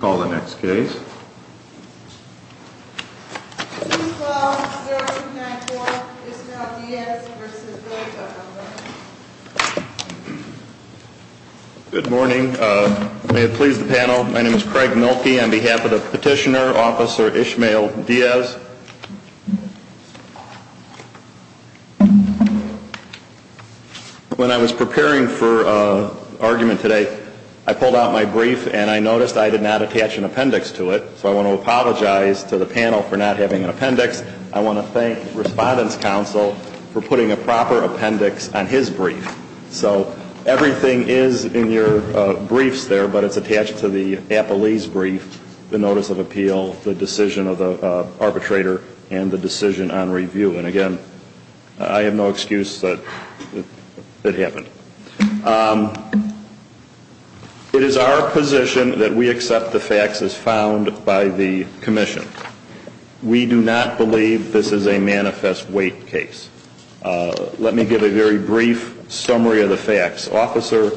Good morning. May it please the panel, my name is Craig Mielke on behalf of the Petitioner, Officer Ishmael Diaz. When I was preparing for argument today, I pulled out my brief and I noticed I did not attach an appendix to it, so I want to apologize to the panel for not having an appendix. I want to thank Respondent's Counsel for putting a proper appendix on his brief. So everything is in your briefs there, but it's attached to the appellee's brief, the Notice of Appeal, the decision of the arbitrator, and the decision on review. And again, I have no excuse that it happened. It is our position that we accept the facts as found by the Commission. We do not believe this is a manifest weight case. Let me give a very brief summary of the facts. Officer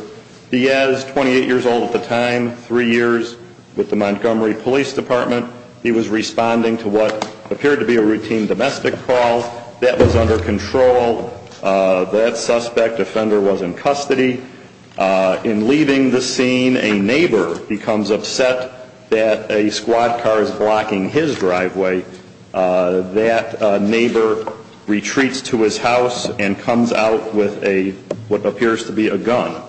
Diaz, 28 years old at the time, three years with the Montgomery Police Department. He was responding to what appeared to be a routine domestic call. That was under control. That suspect offender was in custody. In leaving the scene, a neighbor becomes upset that a squad car is blocking his driveway. That neighbor retreats to his house and comes out with what appears to be a gun.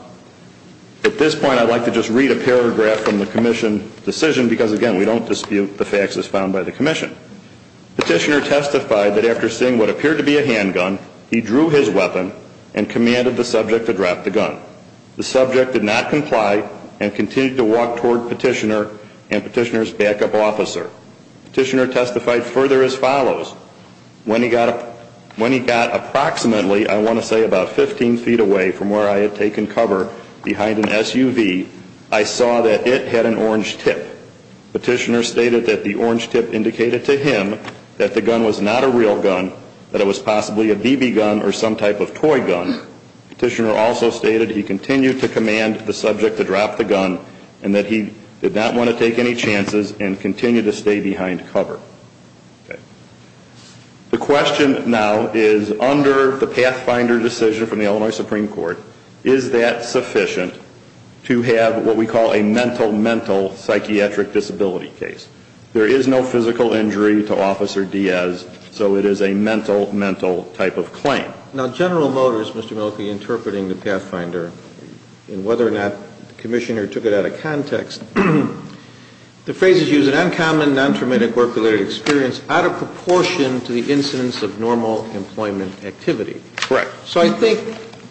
At this point, I'd like to just read a paragraph from the Commission decision, because again, we don't dispute the facts as found by the Commission. Petitioner testified that after seeing what appeared to be a handgun, he drew his weapon and commanded the subject to drop the gun. The subject did not comply and continued to walk toward Petitioner and Petitioner's backup officer. Petitioner testified further as follows. When he got approximately, I want to say about 15 feet away from where I had taken cover behind an SUV, I saw that it had an orange tip. Petitioner stated that the orange tip indicated to him that the gun was not a real gun, that it was possibly a BB gun or some type of toy gun. Petitioner also stated he continued to command the subject to drop the gun and that he did not want to take any chances and continued to stay behind cover. The question now is, under the Pathfinder decision from the Illinois Supreme Court, is that sufficient to have what we call a mental mental psychiatric disability case? There is no physical injury to Officer Diaz, so it is a mental mental type of claim. Now, General Motors, Mr. Milkey, interpreting the Pathfinder and whether or not the Commissioner took it out of context, the phrases use an uncommon, non-traumatic work-related experience out of proportion to the incidence of normal employment activity. Correct. So I think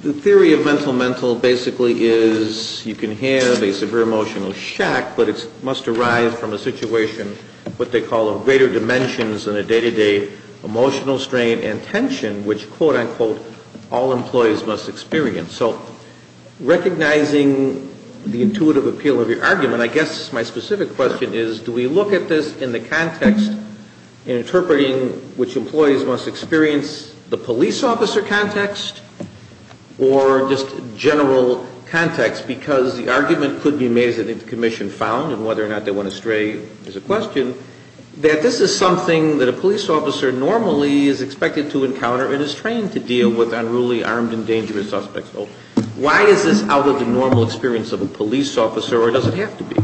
the theory of mental mental basically is you can have a severe emotional shock, but it must arise from a situation, what they call a greater dimensions in a day-to-day emotional strain and tension, which, quote-unquote, all employees must experience. So recognizing the intuitive appeal of your argument, I guess my specific question is, do we look at this in the context in interpreting which employees must experience the police officer context or just general context? Because the argument could be made, as I think the Commission found, and whether or not they went astray is a question, that this is something that a police officer normally is expected to encounter and is trained to deal with unruly, armed and dangerous suspects. So why is this out of the normal experience of a police officer, or does it have to be?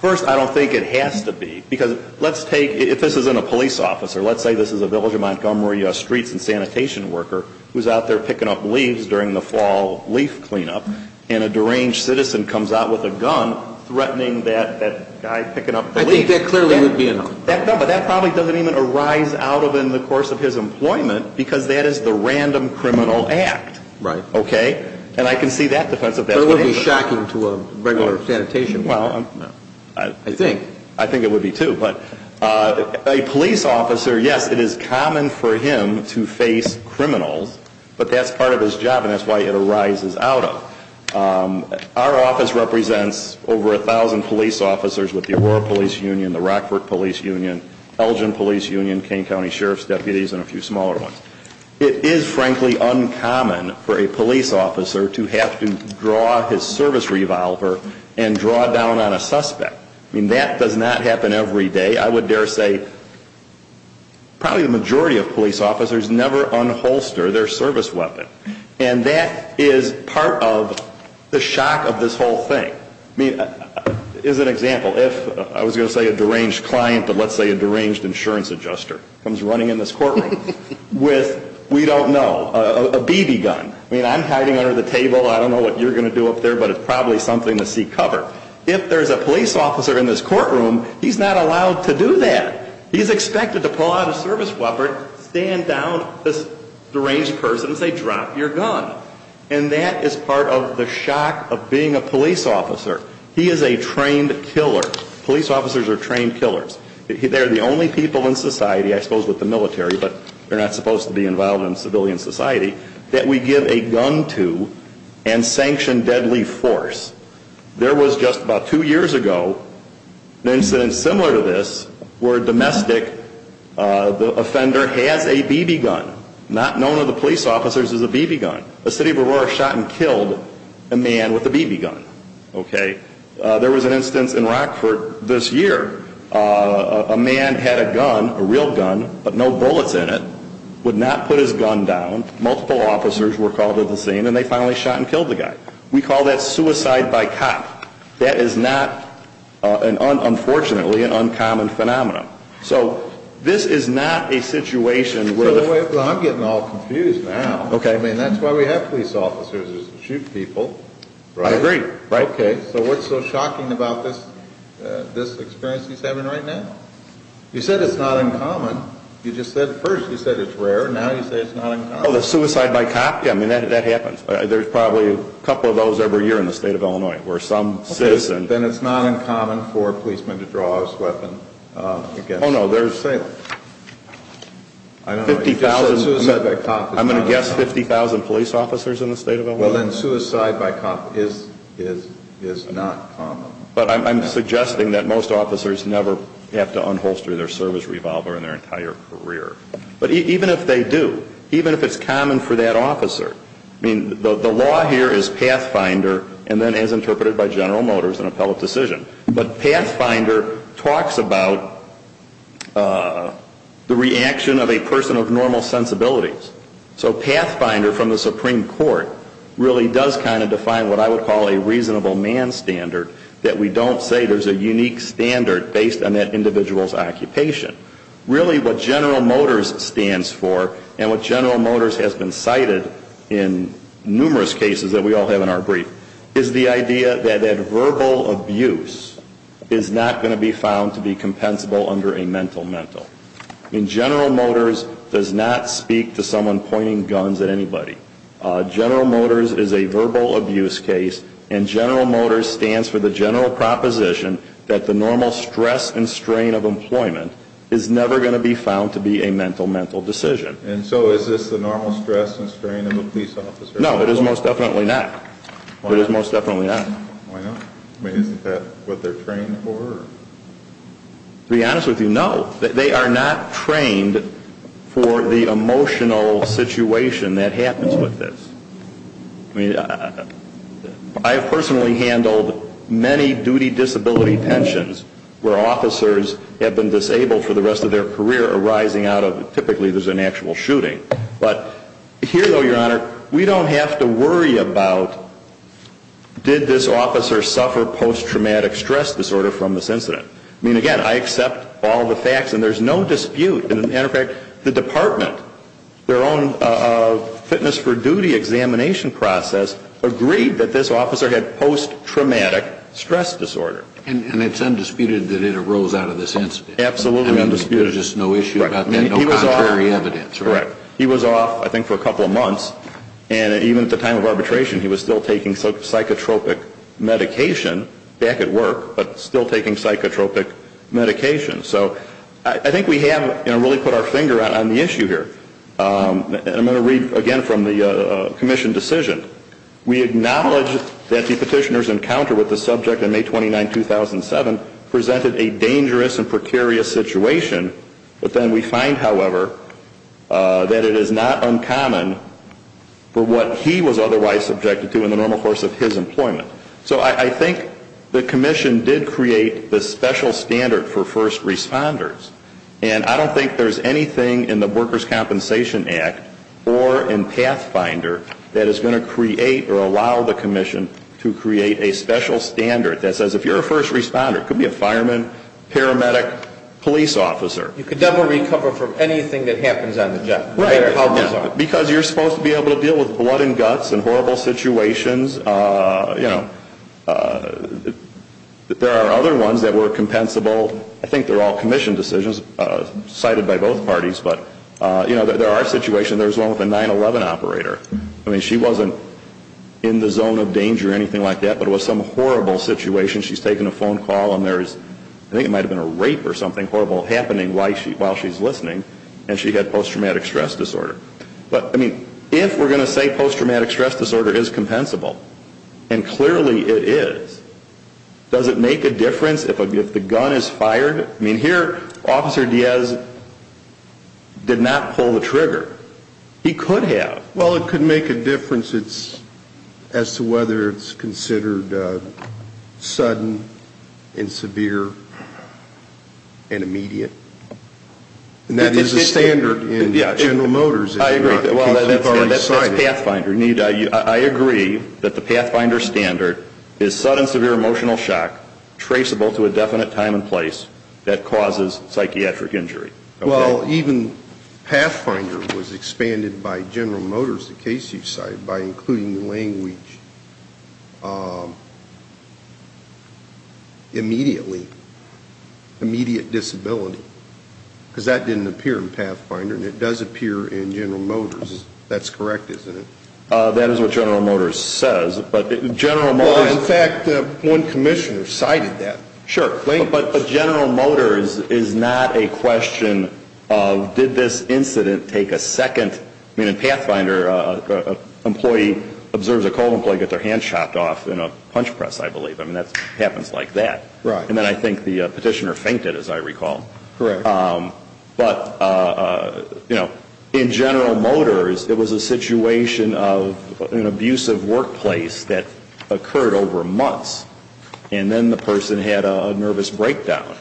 First, I don't think it has to be, because let's take, if this isn't a police officer, let's say this is a village of Montgomery streets and sanitation worker who's out there picking up leaves during the fall leaf cleanup, and a deranged citizen comes out with a gun threatening that guy picking up the leaves. I think that clearly would be enough. No, but that probably doesn't even arise out of in the course of his employment, because that is the random criminal act. Right. Okay? And I can see that defense of that. But it would be shocking to a regular sanitation worker. Well, I think it would be too. But a police officer, yes, it is common for him to face criminals, but that's part of his job, and that's why it arises out of. Our office represents over 1,000 police officers with the Aurora Police Union, the Rockford Police Union, Elgin Police Union, Kane County Sheriff's deputies, and a few smaller ones. It is, frankly, uncommon for a police officer to have to draw his service revolver and draw down on a suspect. I mean, that does not happen every day. I would dare say probably the majority of police officers never unholster their service weapon, and that is part of the shock of this whole thing. I mean, as an example, if I was going to say a deranged client, but let's say a deranged insurance adjuster comes running in this courtroom with, we don't know, a BB gun. I mean, I'm hiding under the table. I don't know what you're going to do up there, but it's probably something to seek cover. If there's a police officer in this courtroom, he's not allowed to do that. He's expected to pull out his service weapon, stand down this deranged person, and say, drop your gun. And that is part of the shock of being a police officer. He is a trained killer. Police officers are trained killers. They're the only people in society, I suppose with the military, but they're not supposed to be involved in civilian society, that we give a gun to and sanction deadly force. There was just about two years ago an incident similar to this where a domestic offender has a BB gun. Not known to the police officers as a BB gun. The city of Aurora shot and killed a man with a BB gun. Okay? There was an instance in Rockford this year. A man had a gun, a real gun, but no bullets in it, would not put his gun down. Multiple officers were called to the scene, and they finally shot and killed the guy. We call that suicide by cop. That is not, unfortunately, an uncommon phenomenon. So this is not a situation where... I'm getting all confused now. Okay. I mean, that's why we have police officers, is to shoot people. I agree. Okay. So what's so shocking about this experience he's having right now? You said it's not uncommon. You just said at first, you said it's rare. Now you say it's not uncommon. Oh, the suicide by cop? Yeah, I mean, that happens. There's probably a couple of those every year in the state of Illinois, where some citizen... Oh, no, there's 50,000... I don't know. You just said suicide by cop. I'm going to guess 50,000 police officers in the state of Illinois. Well, then, suicide by cop is not common. But I'm suggesting that most officers never have to unholster their service revolver in their entire career. But even if they do, even if it's common for that officer, I mean, the law here is Pathfinder, and then, as interpreted by General Motors, an appellate decision. But Pathfinder talks about the reaction of a person of normal sensibilities. So Pathfinder, from the Supreme Court, really does kind of define what I would call a reasonable man standard, that we don't say there's a unique standard based on that individual's occupation. Really, what General Motors stands for, and what General Motors has been cited in numerous cases that we all have in our brief, is the idea that verbal abuse is not going to be found to be compensable under a mental-mental. I mean, General Motors does not speak to someone pointing guns at anybody. General Motors is a verbal abuse case, and General Motors stands for the general proposition that the normal stress and strain of employment is never going to be found to be a mental-mental decision. And so is this the normal stress and strain of a police officer? No, it is most definitely not. It is most definitely not. Why not? I mean, isn't that what they're trained for? To be honest with you, no. They are not trained for the emotional situation that happens with this. I mean, I have personally handled many duty disability pensions where officers have been disabled for the rest of their career arising out of, typically, there's an actual shooting. But here, though, Your Honor, we don't have to worry about, did this officer suffer post-traumatic stress disorder from this incident? I mean, again, I accept all the facts, and there's no dispute. As a matter of fact, the department, their own fitness for duty examination process, agreed that this officer had post-traumatic stress disorder. And it's undisputed that it arose out of this incident? Absolutely undisputed. And there's just no issue about that, no contrary evidence, right? That's correct. He was off, I think, for a couple of months. And even at the time of arbitration, he was still taking psychotropic medication back at work, but still taking psychotropic medication. So I think we have really put our finger on the issue here. And I'm going to read again from the commission decision. We acknowledge that the petitioner's encounter with the subject in May 29, 2007 presented a dangerous and precarious situation. But then we find, however, that it is not uncommon for what he was otherwise subjected to in the normal course of his employment. So I think the commission did create this special standard for first responders. And I don't think there's anything in the Workers' Compensation Act or in Pathfinder that is going to create or allow the commission to create a special standard that says if you're a first responder, it could be a fireman, paramedic, police officer. You could never recover from anything that happens on the job, no matter how bizarre. Right. Because you're supposed to be able to deal with blood and guts and horrible situations. You know, there are other ones that were compensable. I think they're all commission decisions cited by both parties. But, you know, there are situations. There was one with a 9-11 operator. I mean, she wasn't in the zone of danger or anything like that. But it was some horrible situation. She's taking a phone call and there is, I think it might have been a rape or something horrible happening while she's listening. And she had post-traumatic stress disorder. But, I mean, if we're going to say post-traumatic stress disorder is compensable, and clearly it is, does it make a difference if the gun is fired? I mean, here Officer Diaz did not pull the trigger. He could have. Well, it could make a difference as to whether it's considered sudden and severe and immediate. And that is a standard in General Motors. I agree. That's Pathfinder. I agree that the Pathfinder standard is sudden severe emotional shock traceable to a definite time and place that causes psychiatric injury. Well, even Pathfinder was expanded by General Motors, the case you cite, by including the language immediately, immediate disability. Because that didn't appear in Pathfinder and it does appear in General Motors. That's correct, isn't it? That is what General Motors says. Well, in fact, one commissioner cited that. Sure. But General Motors is not a question of did this incident take a second? I mean, in Pathfinder, an employee observes a cold employee get their hand chopped off in a punch press, I believe. I mean, that happens like that. Right. And then I think the petitioner fainted, as I recall. Correct. But, you know, in General Motors, it was a situation of an abusive workplace that occurred over months. And then the person had a nervous breakdown.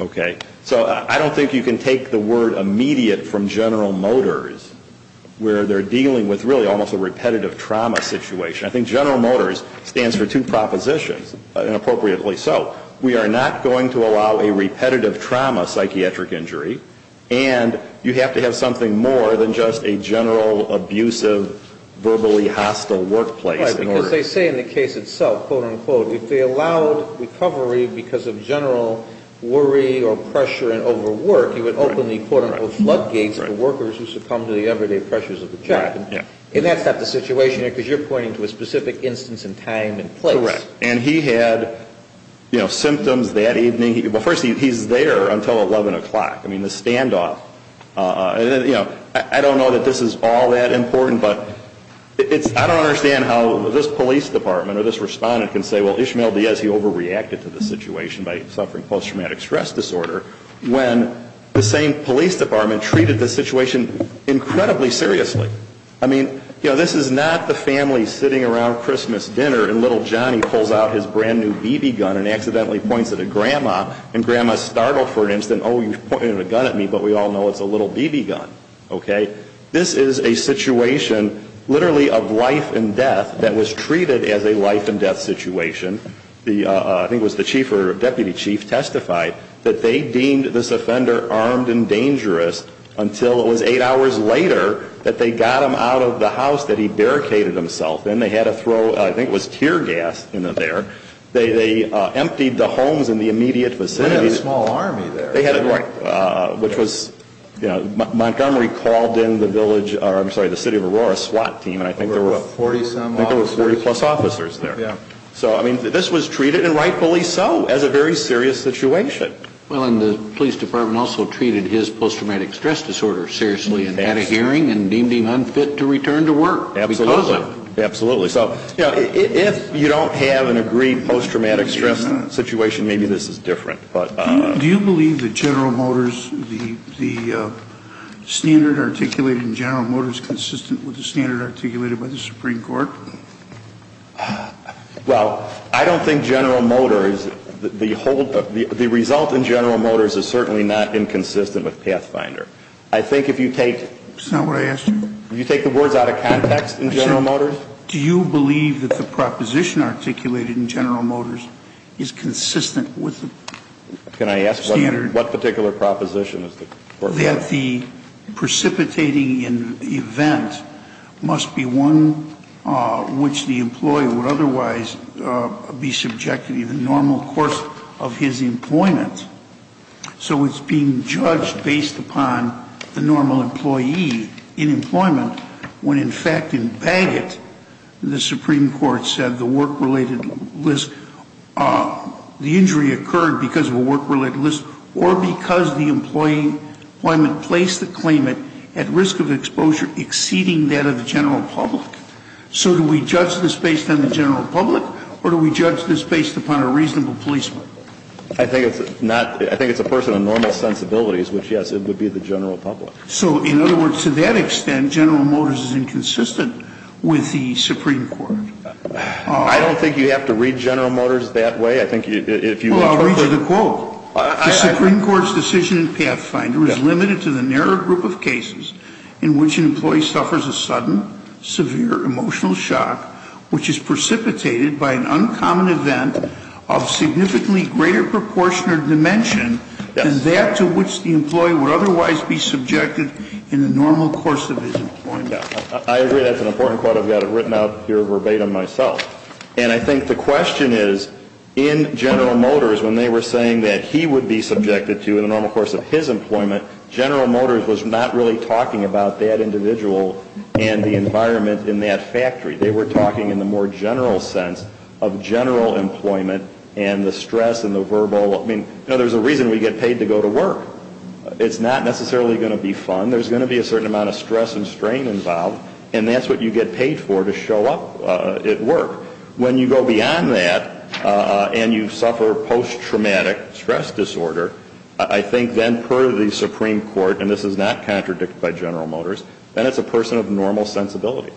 Okay? So I don't think you can take the word immediate from General Motors, where they're dealing with really almost a repetitive trauma situation. I think General Motors stands for two propositions, and appropriately so. We are not going to allow a repetitive trauma psychiatric injury, and you have to have something more than just a general abusive, verbally hostile workplace. Right. Because they say in the case itself, quote, unquote, if they allowed recovery because of general worry or pressure and overwork, it would open the, quote, unquote, floodgates for workers who succumb to the everyday pressures of the job. And that's not the situation here, because you're pointing to a specific instance in time and place. Correct. And he had, you know, symptoms that evening. Well, first, he's there until 11 o'clock. I mean, the standoff. And, you know, I don't know that this is all that important, but I don't understand how this police department or this respondent can say, well, Ishmael Diaz, he overreacted to the situation by suffering post-traumatic stress disorder, when the same police department treated the situation incredibly seriously. I mean, you know, this is not the family sitting around Christmas dinner, and little Johnny pulls out his brand-new BB gun and accidentally points it at Grandma, and Grandma is startled for an instant. Oh, you pointed a gun at me, but we all know it's a little BB gun. Okay? This is a situation literally of life and death that was treated as a life-and-death situation. I think it was the chief or deputy chief testified that they deemed this offender armed and dangerous until it was eight hours later that they got him out of the house that he barricaded himself in. They had to throw, I think it was tear gas in there. They emptied the homes in the immediate vicinity. They had a small army there. Which was Montgomery called in the city of Aurora SWAT team, and I think there were 40-plus officers there. So, I mean, this was treated, and rightfully so, as a very serious situation. Well, and the police department also treated his post-traumatic stress disorder seriously and had a hearing and deemed him unfit to return to work because of it. Absolutely. Absolutely. So, you know, if you don't have an agreed post-traumatic stress situation, maybe this is different. Do you believe that General Motors, the standard articulated in General Motors is consistent with the standard articulated by the Supreme Court? Well, I don't think General Motors, the result in General Motors is certainly not inconsistent with Pathfinder. I think if you take... That's not what I asked you. Did you take the words out of context in General Motors? I said, do you believe that the proposition articulated in General Motors is consistent with the standard? Can I ask what particular proposition is the Court... That the precipitating event must be one which the employee would otherwise be subjected to the normal course of his employment. So it's being judged based upon the normal employee in employment when, in fact, in Bagot, the Supreme Court said the work-related list, the injury occurred because of a work-related list or because the employee placed the claimant at risk of exposure exceeding that of the general public. So do we judge this based on the general public or do we judge this based upon a reasonable policeman? I think it's a person of normal sensibilities, which, yes, it would be the general public. So, in other words, to that extent, General Motors is inconsistent with the Supreme Court. I don't think you have to read General Motors that way. I think if you... Well, I'll read you the quote. The Supreme Court's decision in Pathfinder is limited to the narrow group of cases in which an employee suffers a sudden, severe emotional shock which is precipitated by an uncommon event of significantly greater proportion or dimension than that to which the employee would otherwise be subjected in the normal course of his employment. I agree that's an important quote. I've got it written out here verbatim myself. And I think the question is, in General Motors, when they were saying that he would be subjected to, in the normal course of his employment, General Motors was not really talking about that individual and the environment in that factory. They were talking in the more general sense of general employment and the stress and the verbal... I mean, there's a reason we get paid to go to work. It's not necessarily going to be fun. There's going to be a certain amount of stress and strain involved, and that's what you get paid for to show up at work. When you go beyond that and you suffer post-traumatic stress disorder, I think then per the Supreme Court, and this is not contradicted by General Motors, then it's a person of normal sensibilities.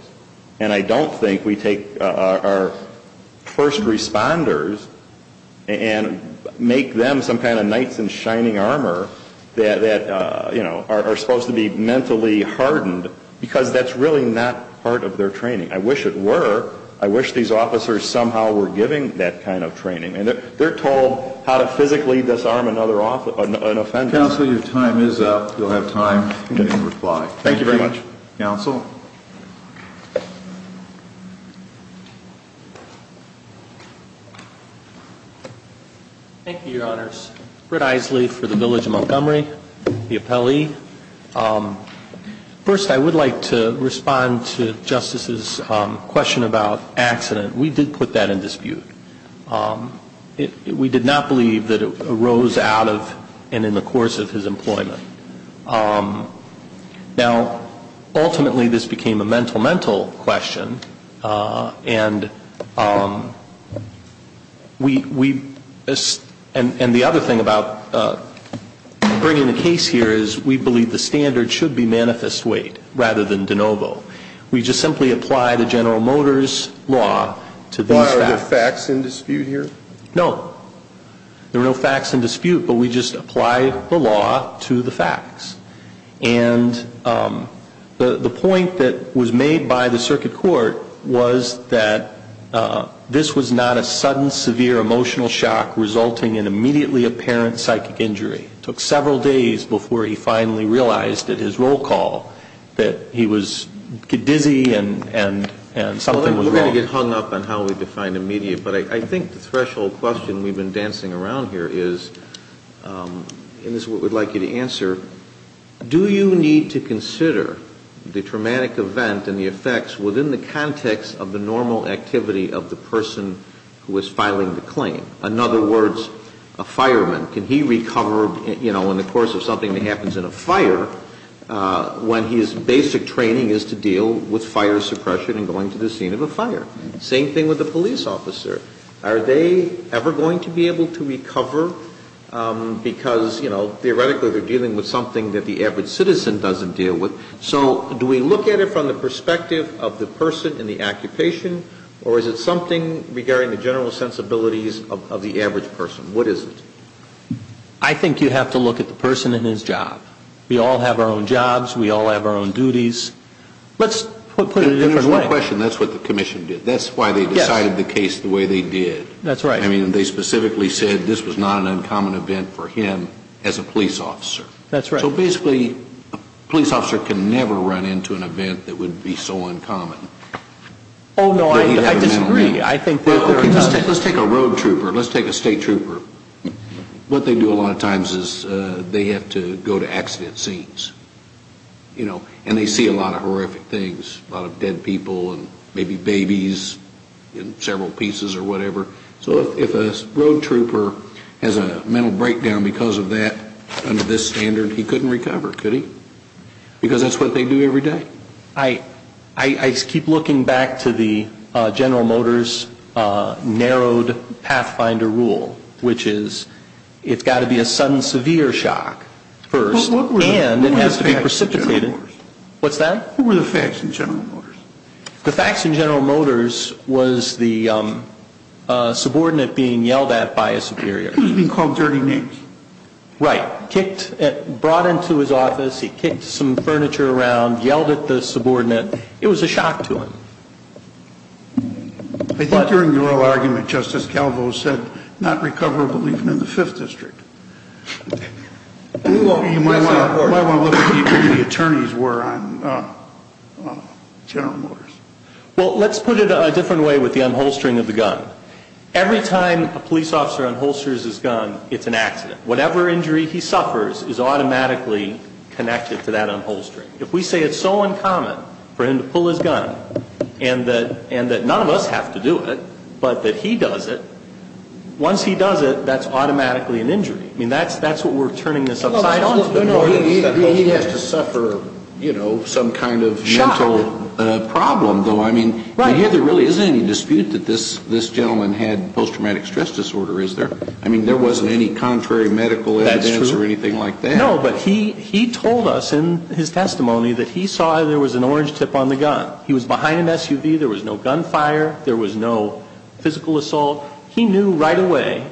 And I don't think we take our first responders and make them some kind of knights in shining armor that are supposed to be mentally hardened because that's really not part of their training. I wish it were. I wish these officers somehow were given that kind of training. They're told how to physically disarm an offender. Counsel, your time is up. You'll have time to reply. Thank you very much. Thank you. Counsel. Thank you, Your Honors. Brett Isley for the Village of Montgomery, the appellee. First, I would like to respond to Justice's question about accident. We did put that in dispute. We did not believe that it arose out of and in the course of his employment. Now, ultimately, this became a mental-mental question. And we – and the other thing about bringing the case here is we believe the standard should be manifest weight rather than de novo. We just simply apply the General Motors law to these facts. Why, are there facts in dispute here? No. There are no facts in dispute, but we just apply the law to the facts. And the point that was made by the circuit court was that this was not a sudden, severe emotional shock resulting in immediately apparent psychic injury. It took several days before he finally realized at his roll call that he was dizzy and something was wrong. We're going to get hung up on how we define immediate, but I think the threshold question we've been dancing around here is, and this is what we'd like you to answer, do you need to consider the traumatic event and the effects within the context of the normal activity of the person who is filing the claim? In other words, a fireman, can he recover in the course of something that happens in a fire when his basic training is to deal with fire suppression and going to the scene of a fire? Same thing with a police officer. Are they ever going to be able to recover because, you know, theoretically they're dealing with something that the average citizen doesn't deal with? So do we look at it from the perspective of the person in the occupation, or is it something regarding the general sensibilities of the average person? What is it? I think you have to look at the person and his job. We all have our own jobs. We all have our own duties. Let's put it in a different way. That's the question. That's what the commission did. That's why they decided the case the way they did. That's right. I mean, they specifically said this was not an uncommon event for him as a police officer. That's right. So basically a police officer can never run into an event that would be so uncommon. Oh, no, I disagree. Let's take a road trooper. Let's take a state trooper. What they do a lot of times is they have to go to accident scenes, you know, and they see a lot of horrific things, a lot of dead people and maybe babies in several pieces or whatever. So if a road trooper has a mental breakdown because of that under this standard, he couldn't recover, could he? Because that's what they do every day. I keep looking back to the General Motors narrowed pathfinder rule, which is it's got to be a sudden severe shock first, and it has to be precipitated. What's that? What were the facts in General Motors? The facts in General Motors was the subordinate being yelled at by a superior. He was being called dirty names. Right. Brought into his office, he kicked some furniture around, yelled at the subordinate. It was a shock to him. I think during the oral argument, Justice Calvo said not recoverable even in the Fifth District. You might want to look at what the attorneys were on General Motors. Well, let's put it a different way with the unholstering of the gun. Every time a police officer unholsters his gun, it's an accident. Whatever injury he suffers is automatically connected to that unholstering. If we say it's so uncommon for him to pull his gun and that none of us have to do it but that he does it, once he does it, that's automatically an injury. I mean, that's what we're turning this upside down. He has to suffer some kind of mental problem, though. I mean, I hear there really isn't any dispute that this gentleman had post-traumatic stress disorder, is there? I mean, there wasn't any contrary medical evidence or anything like that. No, but he told us in his testimony that he saw there was an orange tip on the gun. He was behind an SUV. There was no gunfire. There was no physical assault. He knew right away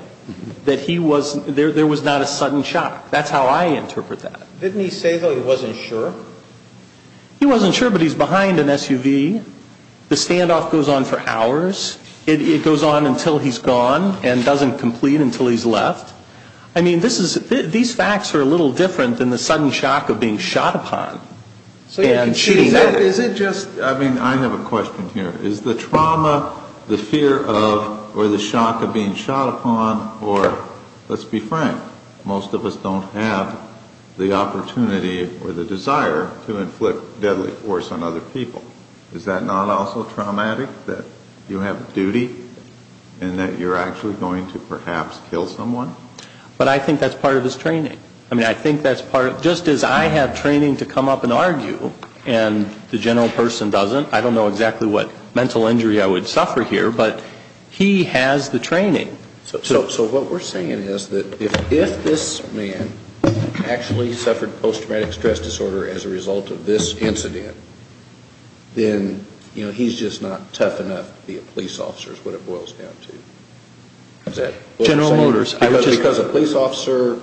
that there was not a sudden shock. That's how I interpret that. Didn't he say, though, he wasn't sure? He wasn't sure, but he's behind an SUV. The standoff goes on for hours. It goes on until he's gone and doesn't complete until he's left. I mean, these facts are a little different than the sudden shock of being shot upon and shooting back. I mean, I have a question here. Is the trauma, the fear of, or the shock of being shot upon or, let's be frank, most of us don't have the opportunity or the desire to inflict deadly force on other people. Is that not also traumatic, that you have duty and that you're actually going to perhaps kill someone? But I think that's part of his training. I mean, I think that's part of it. Just as I have training to come up and argue and the general person doesn't, I don't know exactly what mental injury I would suffer here, but he has the training. So what we're saying is that if this man actually suffered post-traumatic stress disorder as a result of this incident, then, you know, he's just not tough enough to be a police officer is what it boils down to. General Motors. Because a police officer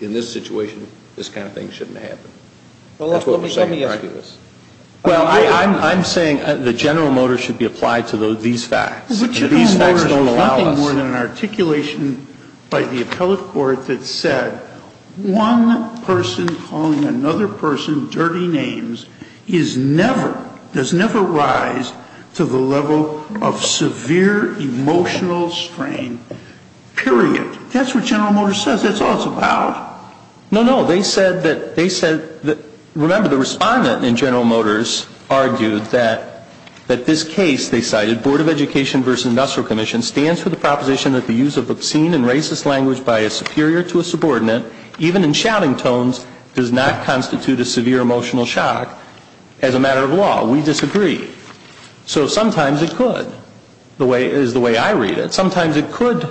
in this situation, this kind of thing shouldn't happen. That's what we're saying. Well, let me ask you this. Well, I'm saying that General Motors should be applied to these facts. But General Motors is nothing more than an articulation by the appellate court that said, one person calling another person dirty names is never, does never rise to the level of severe emotional strain. Period. That's what General Motors says. That's all it's about. No, no. They said that, remember, the respondent in General Motors argued that this case, they cited, Board of Education versus Industrial Commission, stands for the proposition that the use of obscene and racist language by a superior to a subordinate, even in shouting tones, does not constitute a severe emotional shock as a matter of law. We disagree. So sometimes it could, is the way I read it. Sometimes it could,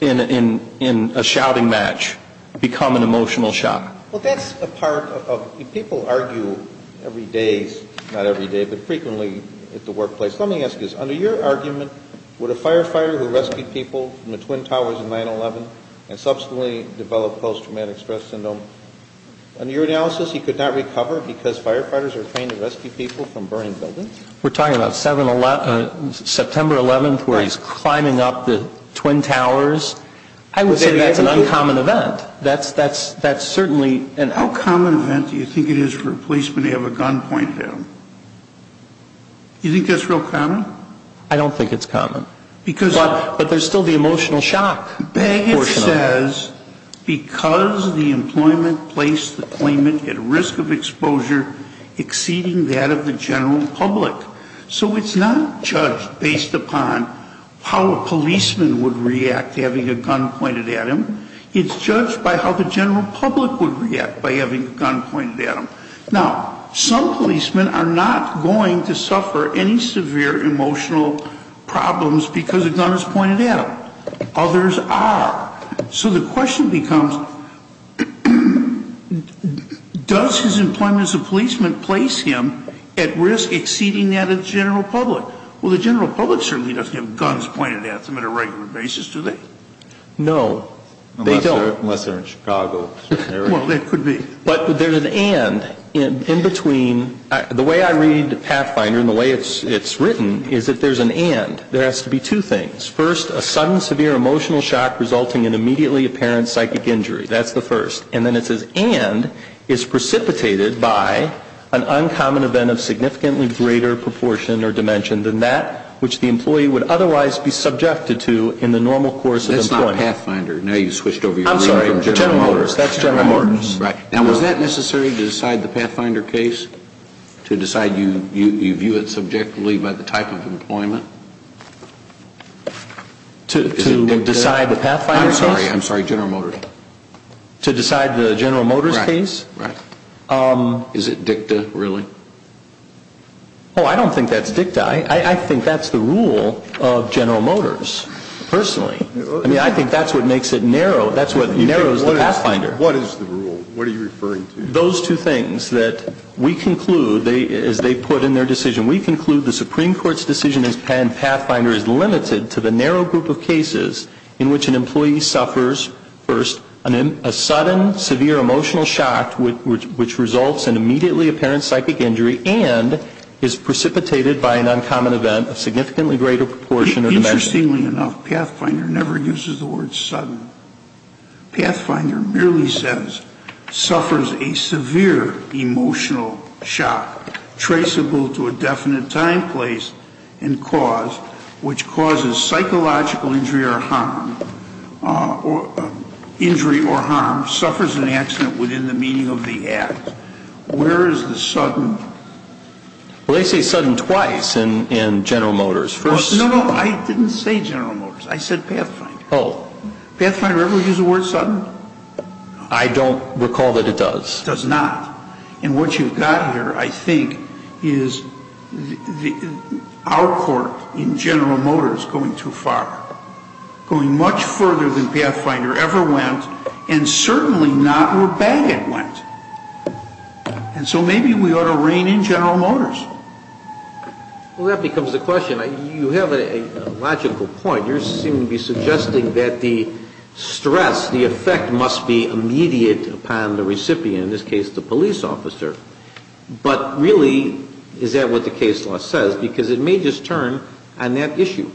in a shouting match, become an emotional shock. Well, that's a part of, people argue every day, not every day, but frequently at the workplace. Let me ask you this. Under your argument, would a firefighter who rescued people from the Twin Towers in 9-11 and subsequently developed post-traumatic stress syndrome, under your analysis he could not recover because firefighters are trained to rescue people from burning buildings? We're talking about September 11th where he's climbing up the Twin Towers. I would say that's an uncommon event. That's certainly an uncommon event. How common do you think it is for a policeman to have a gun pointed at him? Do you think that's real common? I don't think it's common. But there's still the emotional shock. Bagot says because the employment placed the claimant at risk of exposure exceeding that of the general public. So it's not judged based upon how a policeman would react to having a gun pointed at him. It's judged by how the general public would react by having a gun pointed at them. Now, some policemen are not going to suffer any severe emotional problems because a gun is pointed at them. Others are. So the question becomes does his employment as a policeman place him at risk exceeding that of the general public? Well, the general public certainly doesn't have guns pointed at them on a regular basis, do they? No. Unless they're in Chicago. Well, that could be. But there's an and in between. The way I read Pathfinder and the way it's written is that there's an and. There has to be two things. First, a sudden severe emotional shock resulting in immediately apparent psychic injury. That's the first. And then it says and is precipitated by an uncommon event of significantly greater proportion or dimension than that which the employee would otherwise be subjected to in the normal course of employment. That's not Pathfinder. Now you've switched over your degree from General Motors. I'm sorry. General Motors. That's General Motors. Right. Now, was that necessary to decide the Pathfinder case, to decide you view it subjectively by the type of employment? To decide the Pathfinder case? I'm sorry. I'm sorry. General Motors. To decide the General Motors case? Right. Right. Is it dicta, really? Oh, I don't think that's dicta. I think that's the rule of General Motors personally. I mean, I think that's what makes it narrow. That's what narrows the Pathfinder. What is the rule? What are you referring to? Those two things that we conclude as they put in their decision. We conclude the Supreme Court's decision in Pathfinder is limited to the narrow group of cases in which an employee suffers, first, a sudden severe emotional shock which results in immediately apparent psychic injury and is precipitated by an uncommon event of significantly greater proportion or dimension. Interestingly enough, Pathfinder never uses the word sudden. Pathfinder merely says suffers a severe emotional shock traceable to a definite time, place, and cause which causes psychological injury or harm, injury or harm, suffers an accident within the meaning of the act. Where is the sudden? Well, they say sudden twice in General Motors. No, no. I didn't say General Motors. I said Pathfinder. Oh. Pathfinder ever use the word sudden? I don't recall that it does. It does not. And what you've got here, I think, is our court in General Motors going too far, going much further than Pathfinder ever went and certainly not where Bagot went. And so maybe we ought to rein in General Motors. Well, that becomes the question. You have a logical point. You seem to be suggesting that the stress, the effect must be immediate upon the recipient, in this case the police officer. But really, is that what the case law says? Because it may just turn on that issue.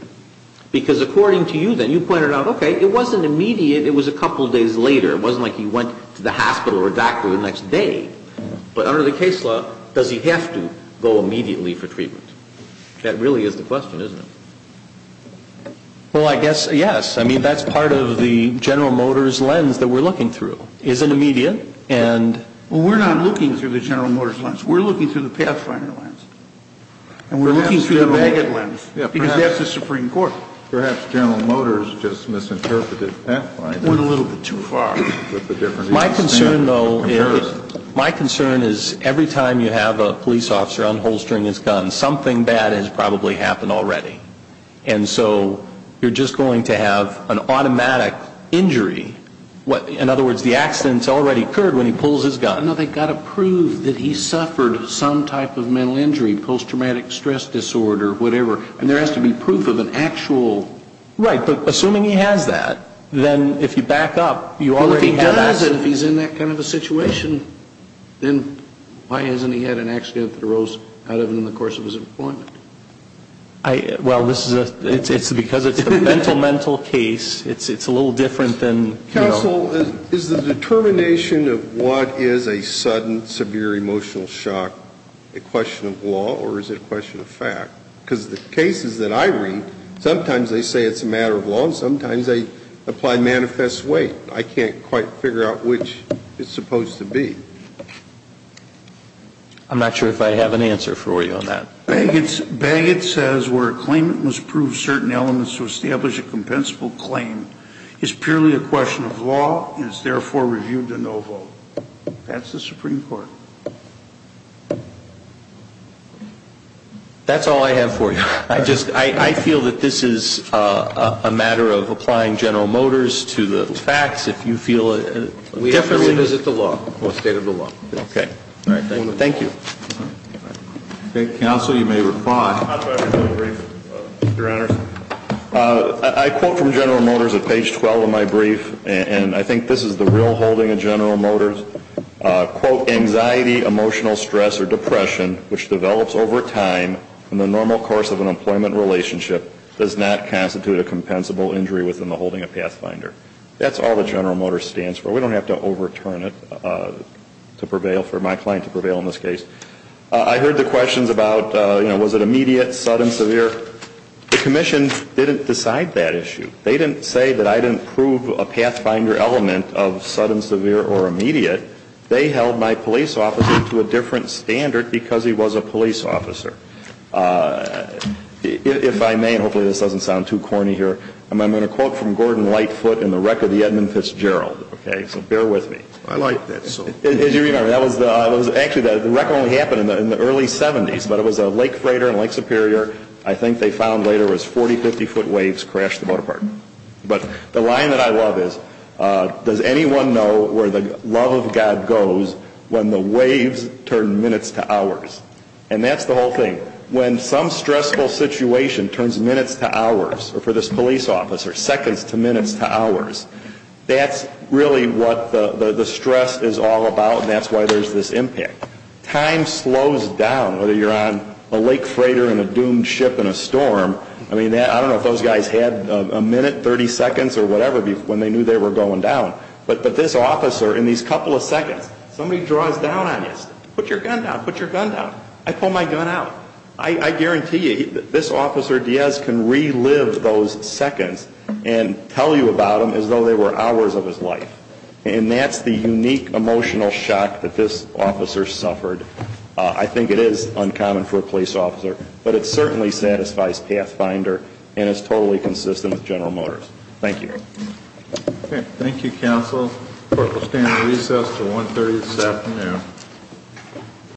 Because according to you then, you pointed out, okay, it wasn't immediate. It was a couple of days later. It wasn't like he went to the hospital or doctor the next day. But under the case law, does he have to go immediately for treatment? That really is the question, isn't it? Well, I guess, yes. I mean, that's part of the General Motors lens that we're looking through. Is it immediate? Well, we're not looking through the General Motors lens. We're looking through the Pathfinder lens. And we're looking through the Bagot lens. Because that's the Supreme Court. Perhaps General Motors just misinterpreted Pathfinder. Went a little bit too far. My concern, though, is every time you have a police officer unholstering his gun, something bad has probably happened already. And so you're just going to have an automatic injury. In other words, the accident's already occurred when he pulls his gun. No, they've got to prove that he suffered some type of mental injury, post-traumatic stress disorder, whatever. And there has to be proof of an actual... Right. Assuming he has that, then if you back up, you already have that... If he's in that kind of a situation, then why hasn't he had an accident that arose out of it in the course of his employment? Well, it's because it's a mental, mental case. It's a little different than... Counsel, is the determination of what is a sudden, severe emotional shock a question of law, or is it a question of fact? Because the cases that I read, sometimes they say it's a matter of law, and sometimes they apply manifest way. I can't quite figure out which it's supposed to be. I'm not sure if I have an answer for you on that. Bagot says where a claimant must prove certain elements to establish a compensable claim is purely a question of law and is therefore reviewed to no vote. That's the Supreme Court. That's all I have for you. I just, I feel that this is a matter of applying General Motors to the facts if you feel... We have to revisit the law, the state of the law. Okay. All right, thank you. Thank you. Counsel, you may reply. How do I review the brief, Your Honor? I quote from General Motors at page 12 of my brief, and I think this is the real holding of General Motors. Quote, anxiety, emotional stress, or depression which develops over time in the normal course of an employment relationship does not constitute a compensable injury within the holding of Pathfinder. That's all that General Motors stands for. We don't have to overturn it to prevail, for my client to prevail in this case. I heard the questions about, you know, was it immediate, sudden, severe? The Commission didn't decide that issue. They didn't say that I didn't prove a Pathfinder element of sudden, severe, or immediate. They held my police officer to a different standard because he was a police officer. If I may, and hopefully this doesn't sound too corny here, I'm going to quote from Gordon Lightfoot in the wreck of the Edmund Fitzgerald, okay? So bear with me. I like that. As you remember, that was actually, the wreck only happened in the early 70s, but it was a Lake Freighter in Lake Superior, I think they found later was 40, 50-foot waves crashed the boat apart. But the line that I love is, does anyone know where the love of God goes when the waves turn minutes to hours? And that's the whole thing. When some stressful situation turns minutes to hours for this police officer, seconds to minutes to hours, that's really what the stress is all about, and that's why there's this impact. Time slows down, whether you're on a Lake Freighter in a doomed ship in a storm. I mean, I don't know if those guys had a minute, 30 seconds, or whatever, when they knew they were going down. But this officer, in these couple of seconds, somebody draws down on you, put your gun down, put your gun down. I pull my gun out. I guarantee you, this officer, Diaz, can relive those seconds and tell you about them as though they were hours of his life. And that's the unique emotional shock that this officer suffered. I think it is uncommon for a police officer, but it certainly satisfies Pathfinder and is totally consistent with General Motors. Thank you. Thank you, Counsel. Court will stand in recess until 1.30 this afternoon.